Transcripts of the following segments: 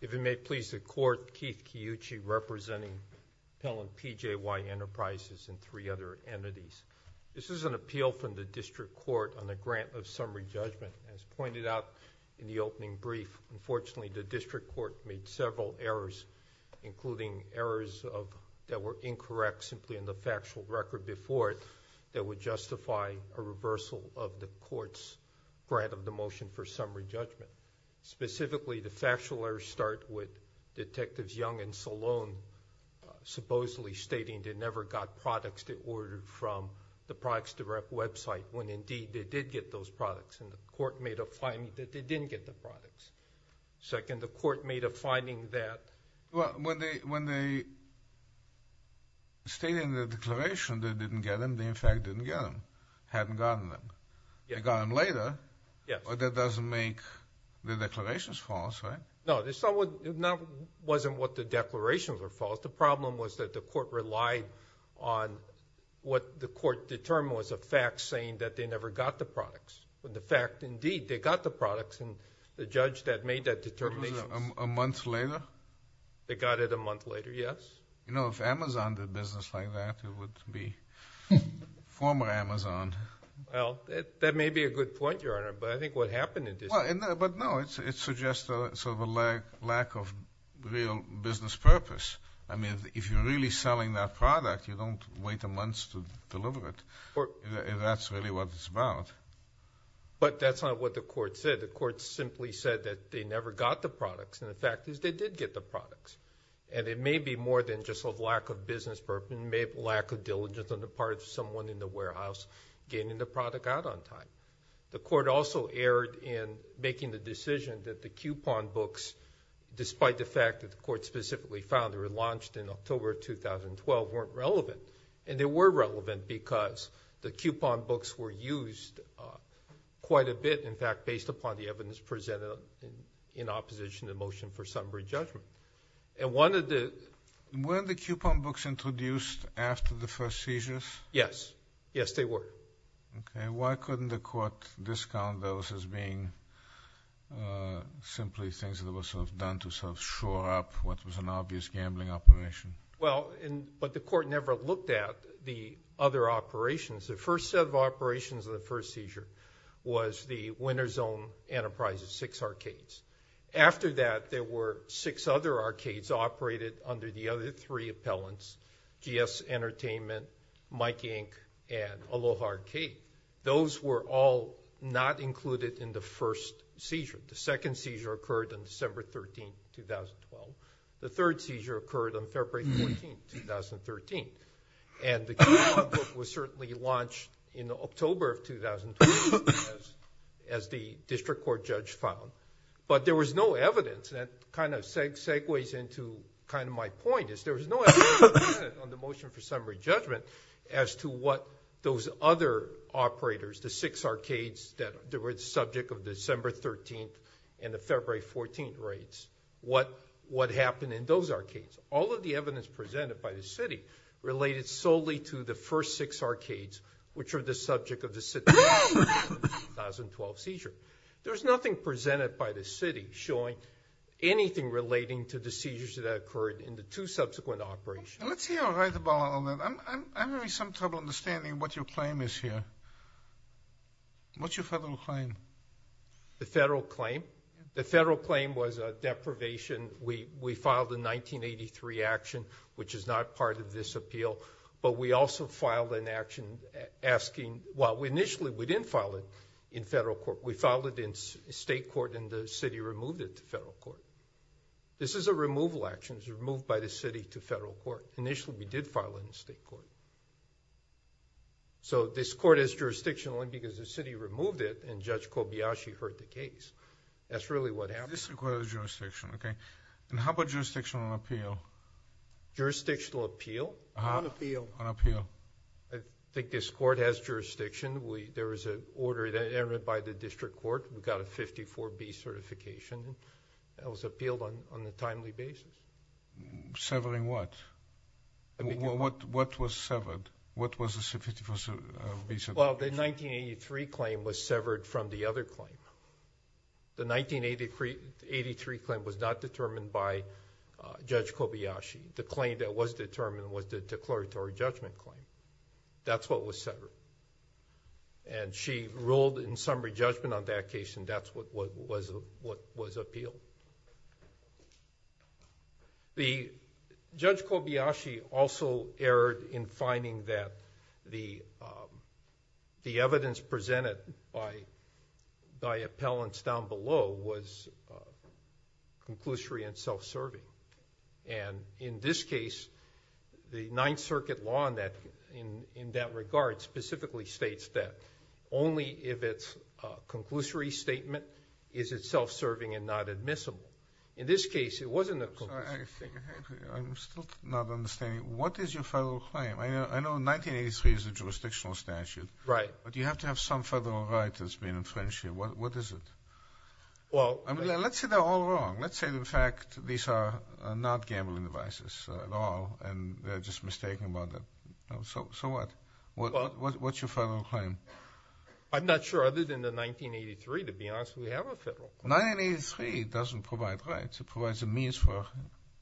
If it may please the Court, Keith Kiyuchi representing Pell and PJY Enterprises and three other entities. This is an appeal from the district court on the grant of summary judgment. As pointed out in the opening brief, unfortunately the district court made several errors including errors that were incorrect simply in the factual record before it that would justify a reversal of the court's grant of the motion for summary judgment. Specifically, the factual errors start with Detectives Young and Salone supposedly stating they never got products they ordered from the Products Direct website when indeed they did get those products and the court made up finding that they didn't get the products. Second, the court made up finding that... Well, when they stated in the declaration they didn't get them, they in fact didn't get them. Hadn't gotten them. They got them later. Yes. But that doesn't make the declarations false, right? No. It wasn't what the declarations were false. The problem was that the court relied on what the court determined was a fact saying that they never got the products, but the fact indeed they got the products and the judge that made that determination... They got it a month later. Yes. You know, if Amazon did business like that, it would be former Amazon. Well, that may be a good point, Your Honor, but I think what happened in this case... But no, it suggests sort of a lack of real business purpose. I mean, if you're really selling that product, you don't wait a month to deliver it. That's really what it's about. But that's not what the court said. The court simply said that they never got the products and the fact is they did get the products. And it may be more than just a lack of business purpose and lack of diligence on the part of someone in the warehouse getting the product out on time. The court also erred in making the decision that the coupon books, despite the fact that the court specifically found they were launched in October of 2012, weren't relevant. And they were relevant because the coupon books were used quite a bit, in fact, based upon the evidence presented in opposition to the motion for summary judgment. And one of the... Were the coupon books introduced after the first seizures? Yes. Yes, they were. Okay. Why couldn't the court discount those as being simply things that were sort of done to sort of shore up what was an obvious gambling operation? Well, but the court never looked at the other operations. The first set of operations of the first seizure was the Winner's Own Enterprises, six arcades. After that, there were six other arcades operated under the other three appellants, GS Entertainment, Mike Inc., and Aloha Arcade. Those were all not included in the first seizure. The second seizure occurred on December 13, 2012. The third seizure occurred on February 14, 2013. And the coupon book was certainly launched in October of 2012, as the district court judge found. But there was no evidence, and that kind of segues into kind of my point, is there was no evidence on the motion for summary judgment as to what those other operators, the six arcades that were the subject of December 13 and the February 14 raids, what happened in those arcades. All of the evidence presented by the city related solely to the first six arcades, which are the subject of the 2012 seizure. There's nothing presented by the city showing anything relating to the seizures that occurred in the two subsequent operations. Let's hear right about all that. I'm having some trouble understanding what your claim is here. What's your federal claim? The federal claim? The federal claim was a deprivation. We filed a 1983 action, which is not part of this appeal, but we also filed an action asking... well, initially, we didn't file it in federal court. We filed it in state court, and the city removed it to federal court. This is a removal action. It was removed by the city to federal court. Initially, we did file it in state court. So this court is jurisdictional only because the city removed it, and Judge Kobayashi heard the case. That's really what happened. This requires jurisdiction. Okay. How about jurisdictional appeal? Jurisdictional appeal? On appeal. On appeal. I think this court has jurisdiction. There was an order entered by the district court. We got a 54B certification. That was appealed on a timely basis. Severing what? What was severed? What was the 54B certification? Well, the 1983 claim was severed from the other claim. The 1983 claim was not determined by Judge Kobayashi. The claim that was determined was the declaratory judgment claim. That's what was severed. She ruled in summary judgment on that case, and that's what was appealed. The Judge Kobayashi also erred in finding that the evidence presented by appellants down below was conclusory and self-serving. And in this case, the Ninth Circuit law in that regard specifically states that only if it's a conclusory statement is it self-serving and not admissible. In this case, it wasn't a conclusory statement. I'm still not understanding. What is your federal claim? I know 1983 is a jurisdictional statute. Right. But you have to have some federal right that's been infringed here. What is it? Let's say they're all wrong. Let's say, in fact, these are not gambling devices at all, and they're just mistaken about that. So what? What's your federal claim? I'm not sure. Other than the 1983, to be honest, we have a federal claim. 1983 doesn't provide rights. It provides a means for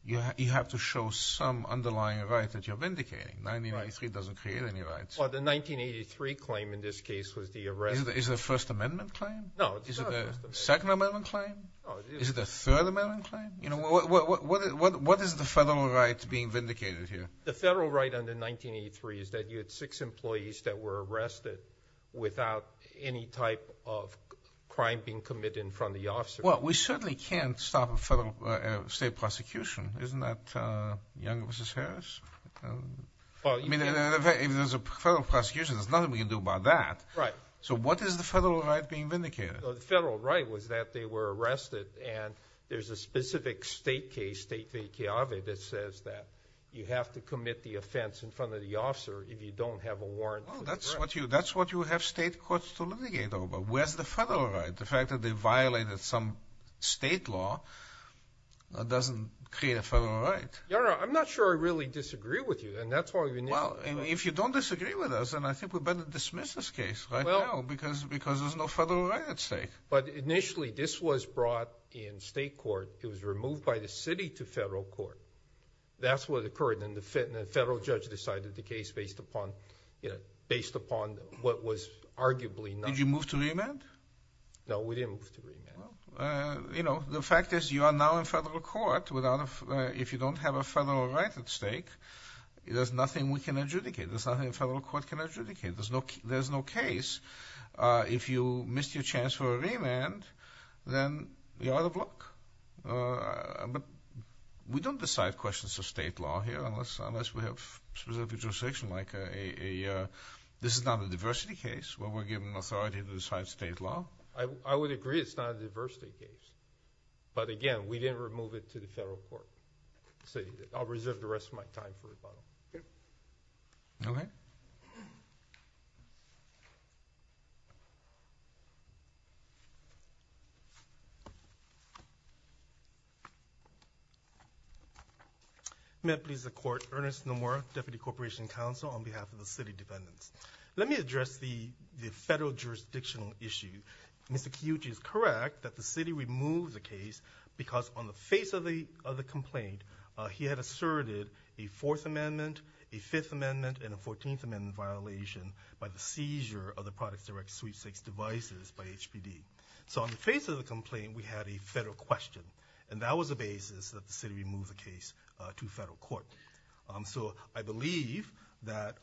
you have to show some underlying right that you're vindicating. 1983 doesn't create any rights. Well, the 1983 claim in this case was the arrest. Is it a First Amendment claim? No, it's not a First Amendment claim. Is it a Second Amendment claim? No, it isn't. Is it a Third Amendment claim? What is the federal right being vindicated here? The federal right under 1983 is that you had six employees that were arrested without any type of crime being committed in front of the officer. Well, we certainly can't stop a federal state prosecution. Isn't that Young v. Harris? I mean, if there's a federal prosecution, there's nothing we can do about that. Right. So what is the federal right being vindicated? The federal right was that they were arrested, and there's a specific state case, State v. Kiawe, that says that you have to commit the offense in front of the officer if you don't have a warrant for the arrest. Oh, that's what you have state courts to litigate over. Where's the federal right? The fact that they violated some state law doesn't create a federal right. No, no. I'm not sure I really disagree with you, and that's why we've initiated this case. Well, if you don't disagree with us, then I think we better dismiss this case right now because there's no federal right at stake. But initially this was brought in state court. It was removed by the city to federal court. That's what occurred. Then the federal judge decided the case based upon what was arguably not. Did you move to remand? No, we didn't move to remand. The fact is you are now in federal court. If you don't have a federal right at stake, there's nothing we can adjudicate. There's nothing the federal court can adjudicate. There's no case. If you missed your chance for a remand, then you're out of luck. But we don't decide questions of state law here unless we have specific jurisdiction. This is not a diversity case where we're given authority to decide state law. I would agree it's not a diversity case. But, again, we didn't remove it to the federal court. I'll reserve the rest of my time for rebuttal. Okay. May it please the court. Ernest Nomura, Deputy Corporation Counsel on behalf of the city dependents. Let me address the federal jurisdictional issue. Mr. Kiyuchi is correct that the city removed the case because on the face of the complaint, he had asserted a Fourth Amendment, a Fifth Amendment, and a Fourteenth Amendment violation by the seizure of the products directed to sweepstakes devices by HPD. So on the face of the complaint, we had a federal question, and that was the basis that the city removed the case to federal court. So I believe that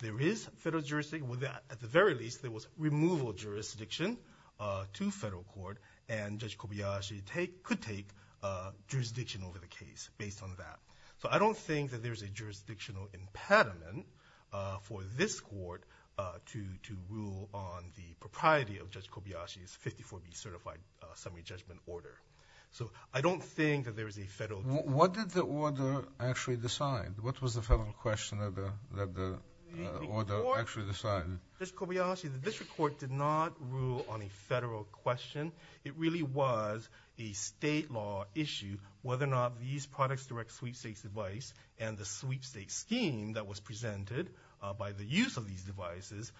there is federal jurisdiction. At the very least, there was removal of jurisdiction to federal court, and Judge Kobayashi could take jurisdiction over the case based on that. So I don't think that there's a jurisdictional impediment for this court to rule on the propriety of Judge Kobayashi's 54B certified summary judgment order. So I don't think that there is a federal jurisdiction. What did the order actually decide? What was the federal question that the order actually decided? Judge Kobayashi, the district court did not rule on a federal question. It really was a state law issue, whether or not these products direct sweepstakes device and the sweepstakes scheme that was presented by the use of these devices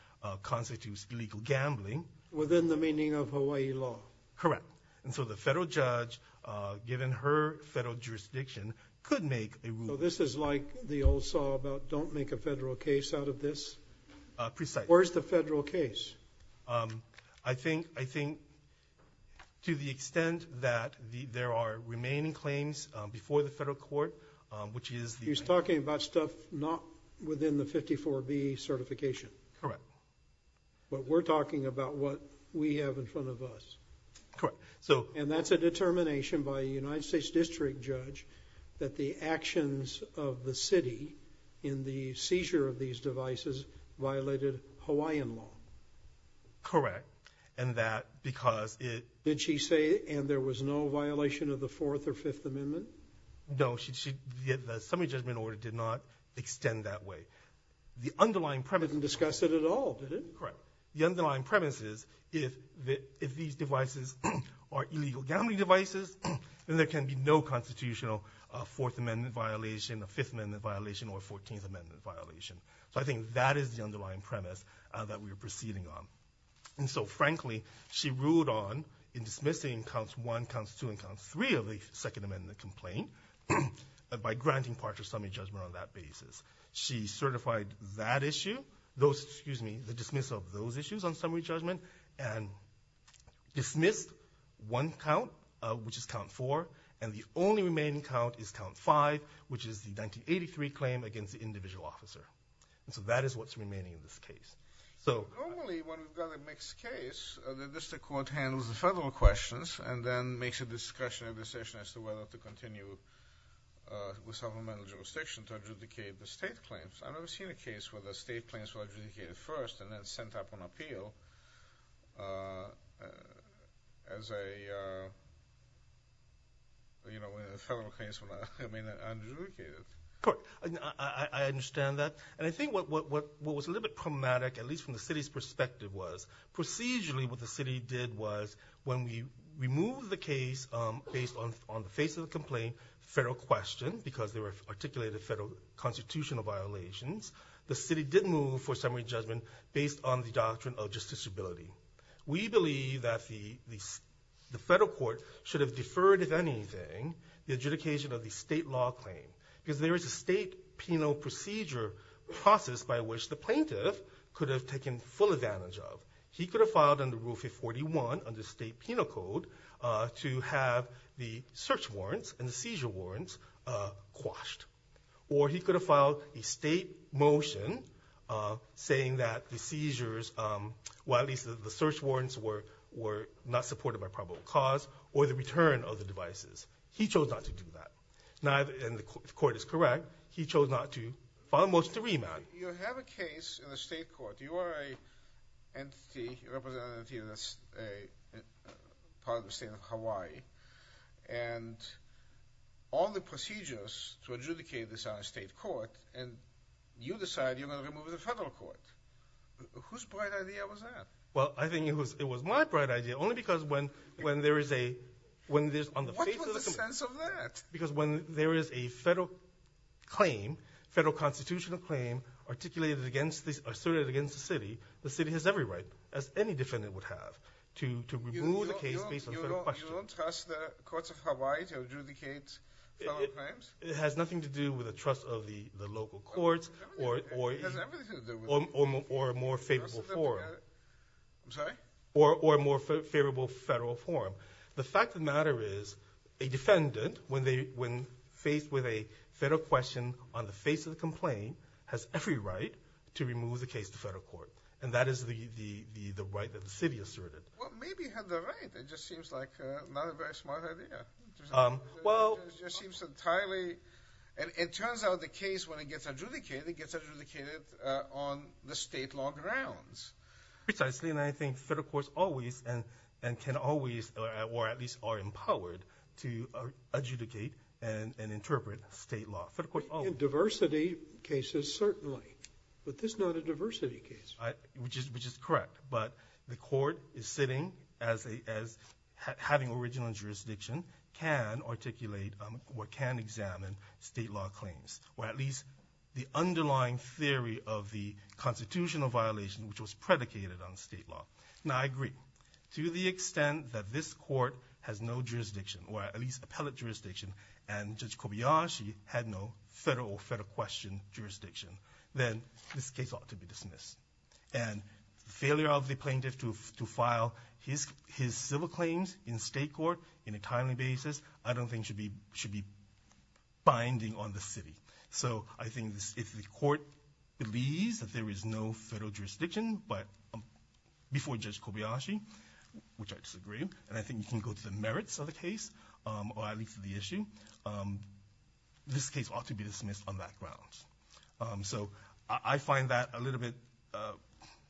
constitutes illegal gambling. Within the meaning of Hawaii law? Correct. And so the federal judge, given her federal jurisdiction, could make a ruling. So this is like the old song about don't make a federal case out of this? Precisely. Where's the federal case? I think to the extent that there are remaining claims before the federal court, which is the- He's talking about stuff not within the 54B certification. Correct. But we're talking about what we have in front of us. Correct. And that's a determination by a United States district judge that the actions of the city in the seizure of these devices violated Hawaiian law. Correct. And that because it- Did she say, and there was no violation of the Fourth or Fifth Amendment? No. The summary judgment order did not extend that way. The underlying premise- It didn't discuss it at all, did it? Correct. The underlying premise is if these devices are illegal gambling devices, then there can be no constitutional Fourth Amendment violation, a Fifth Amendment violation, or a Fourteenth Amendment violation. So I think that is the underlying premise that we are proceeding on. And so frankly, she ruled on in dismissing counts one, counts two, and counts three of the Second Amendment complaint by granting partial summary judgment on that basis. She certified that issue, the dismissal of those issues on summary judgment, and dismissed one count, which is count four, and the only remaining count is count five, which is the 1983 claim against the individual officer. And so that is what's remaining in this case. Normally, when we've got a mixed case, the district court handles the federal questions and then makes a discussion at the session as to whether to continue with supplemental jurisdiction to adjudicate the state claims. I've never seen a case where the state claims were adjudicated first and then sent up on appeal as a federal case when they're adjudicated. I understand that. And I think what was a little bit problematic, at least from the city's perspective, was procedurally what the city did was when we removed the case based on the face of the complaint, federal question, because there were articulated federal constitutional violations, the city did move for summary judgment based on the doctrine of justiciability. We believe that the federal court should have deferred, if anything, the adjudication of the state law claim. Because there is a state penal procedure process by which the plaintiff could have taken full advantage of. He could have filed under Rule 541 under state penal code to have the search warrants and the seizure warrants quashed. Or he could have filed a state motion saying that the seizures, well, at least the search warrants were not supported by probable cause or the return of the devices. He chose not to do that. And the court is correct. He chose not to file a motion to remand. You have a case in the state court. You are an entity, a representative of a part of the state of Hawaii, and all the procedures to adjudicate this are in state court, and you decide you're going to remove it in federal court. Whose bright idea was that? Well, I think it was my bright idea, only because when there is a, What was the sense of that? Because when there is a federal claim, federal constitutional claim, articulated against this, asserted against the city, the city has every right, as any defendant would have, to remove the case based on federal question. You don't trust the courts of Hawaii to adjudicate federal claims? It has nothing to do with the trust of the local courts or a more favorable forum. I'm sorry? Or a more favorable federal forum. The fact of the matter is a defendant, when faced with a federal question on the face of the complaint, has every right to remove the case to federal court. And that is the right that the city asserted. Well, maybe he had the right. It just seems like not a very smart idea. It just seems entirely, and it turns out the case, when it gets adjudicated, it gets adjudicated on the state law grounds. Precisely. And I think federal courts always and can always, or at least are empowered, to adjudicate and interpret state law. In diversity cases, certainly. But this is not a diversity case. Which is correct. But the court is sitting as having original jurisdiction, can articulate or can examine state law claims. Or at least the underlying theory of the constitutional violation, which was predicated on state law. Now, I agree. To the extent that this court has no jurisdiction, or at least appellate jurisdiction, and Judge Kobayashi had no federal or federal question jurisdiction, then this case ought to be dismissed. And the failure of the plaintiff to file his civil claims in state court in a timely basis, I don't think should be binding on the city. So I think if the court believes that there is no federal jurisdiction before Judge Kobayashi, which I disagree, and I think you can go to the merits of the case, or at least the issue, this case ought to be dismissed on that grounds. So I find that a little bit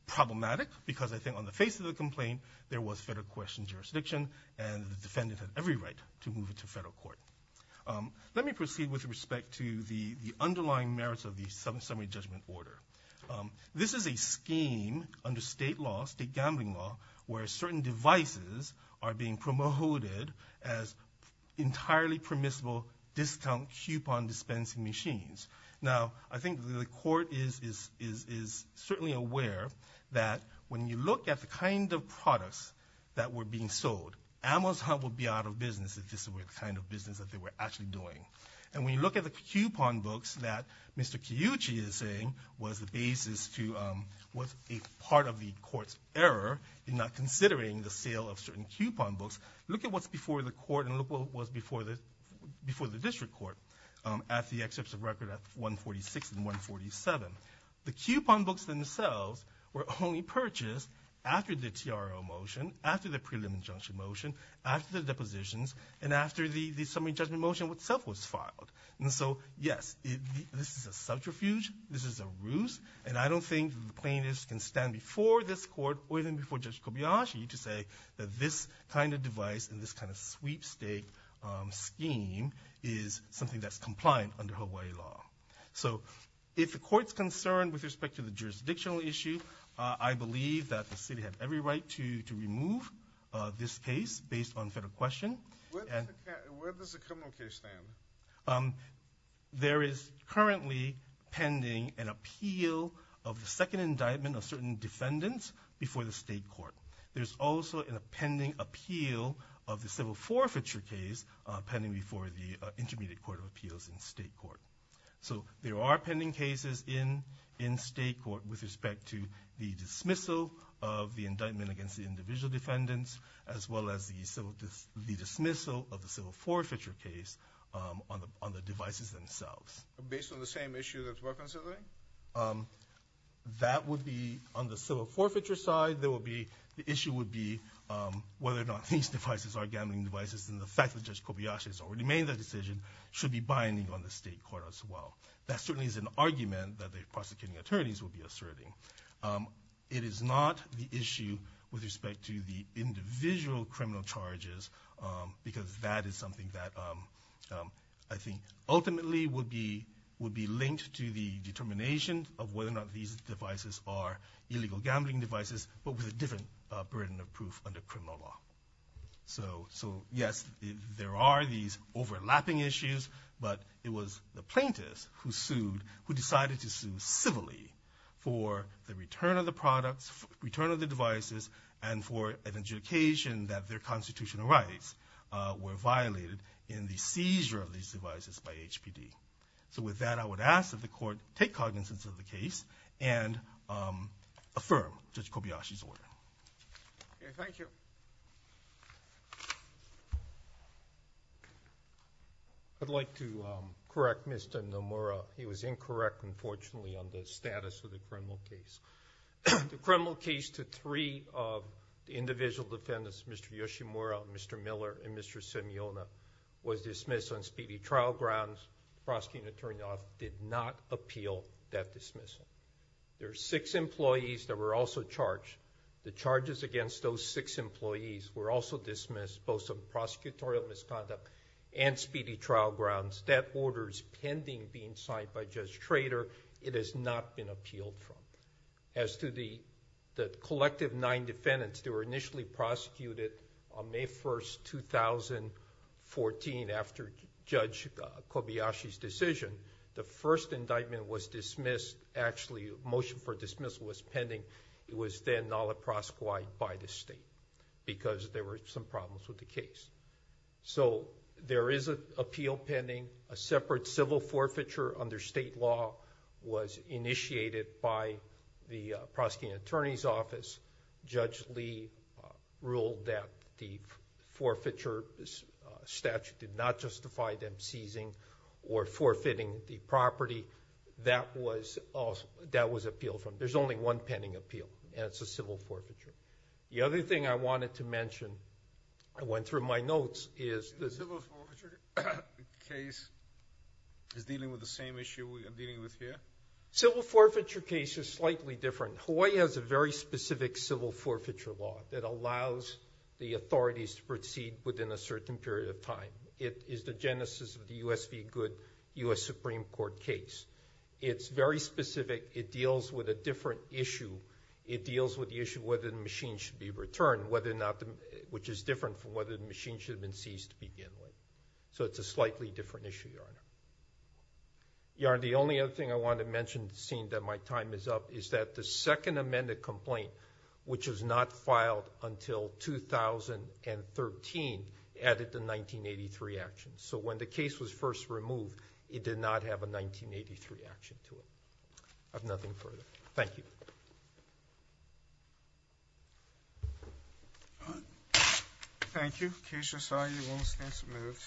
problematic, because I think on the face of the complaint, there was federal question jurisdiction, and the defendant had every right to move it to federal court. Let me proceed with respect to the underlying merits of the summary judgment order. This is a scheme under state law, state gambling law, where certain devices are being promoted as entirely permissible discount coupon dispensing machines. Now, I think the court is certainly aware that when you look at the kind of products that were being sold, Amazon would be out of business if this were the kind of business that they were actually doing. And when you look at the coupon books that Mr. Kiyuchi is saying was the basis to, was a part of the court's error in not considering the sale of certain coupon books, look at what's before the court and look what was before the district court at the excerpts of record at 146 and 147. The coupon books themselves were only purchased after the TRO motion, after the prelim injunction motion, after the depositions, and after the summary judgment motion itself was filed. And so, yes, this is a subterfuge, this is a ruse, and I don't think the plaintiffs can stand before this court or even before Judge Kobayashi to say that this kind of device and this kind of sweepstake scheme is something that's compliant under Hawaii law. So if the court's concerned with respect to the jurisdictional issue, I believe that the city had every right to remove this case based on federal question. Where does the criminal case stand? There is currently pending an appeal of the second indictment of certain defendants before the state court. There's also a pending appeal of the civil forfeiture case pending before the Intermediate Court of Appeals in state court. So there are pending cases in state court with respect to the dismissal of the indictment against the individual defendants as well as the dismissal of the civil forfeiture case on the devices themselves. Based on the same issue that we're considering? That would be on the civil forfeiture side. The issue would be whether or not these devices are gambling devices, and the fact that Judge Kobayashi has already made that decision should be binding on the state court as well. That certainly is an argument that the prosecuting attorneys will be asserting. It is not the issue with respect to the individual criminal charges because that is something that I think ultimately would be linked to the determination of whether or not these devices are illegal gambling devices, but with a different burden of proof under criminal law. So yes, there are these overlapping issues, but it was the plaintiffs who decided to sue civilly for the return of the products, return of the devices, and for an adjudication that their constitutional rights were violated in the seizure of these devices by HPD. So with that, I would ask that the court take cognizance of the case and affirm Judge Kobayashi's order. Thank you. I'd like to correct Mr. Nomura. He was incorrect, unfortunately, on the status of the criminal case. The criminal case to three of the individual defendants, Mr. Yoshimura, Mr. Miller, and Mr. Simeona, was dismissed on speedy trial grounds. The prosecuting attorney did not appeal that dismissal. There were six employees that were also charged. The charges against those six employees were also dismissed, both on prosecutorial misconduct and speedy trial grounds. That order is pending being signed by Judge Trader. It has not been appealed from. As to the collective nine defendants that were initially prosecuted on May 1st, 2014, after Judge Kobayashi's decision, the first indictment was dismissed... Actually, the motion for dismissal was pending. It was then not proscribed by the state because there were some problems with the case. There is an appeal pending. A separate civil forfeiture under state law was initiated by the prosecuting attorney's office. Judge Lee ruled that the forfeiture statute did not justify them seizing or forfeiting the property. That was appealed from. There's only one pending appeal, and it's a civil forfeiture. The other thing I wanted to mention, I went through my notes, is... The civil forfeiture case is dealing with the same issue we are dealing with here? Civil forfeiture case is slightly different. Hawaii has a very specific civil forfeiture law that allows the authorities to proceed within a certain period of time. It is the genesis of the U.S. v. Good U.S. Supreme Court case. It's very specific. It deals with a different issue. It deals with the issue of whether the machine should be returned, which is different from whether the machine should have been seized to begin with. It's a slightly different issue. The only other thing I wanted to mention, seeing that my time is up, is that the second amended complaint, which was not filed until 2013, added the 1983 action. When the case was first removed, it did not have a 1983 action to it. I have nothing further. Thank you. Thank you. Case resolved. You are all dismissed.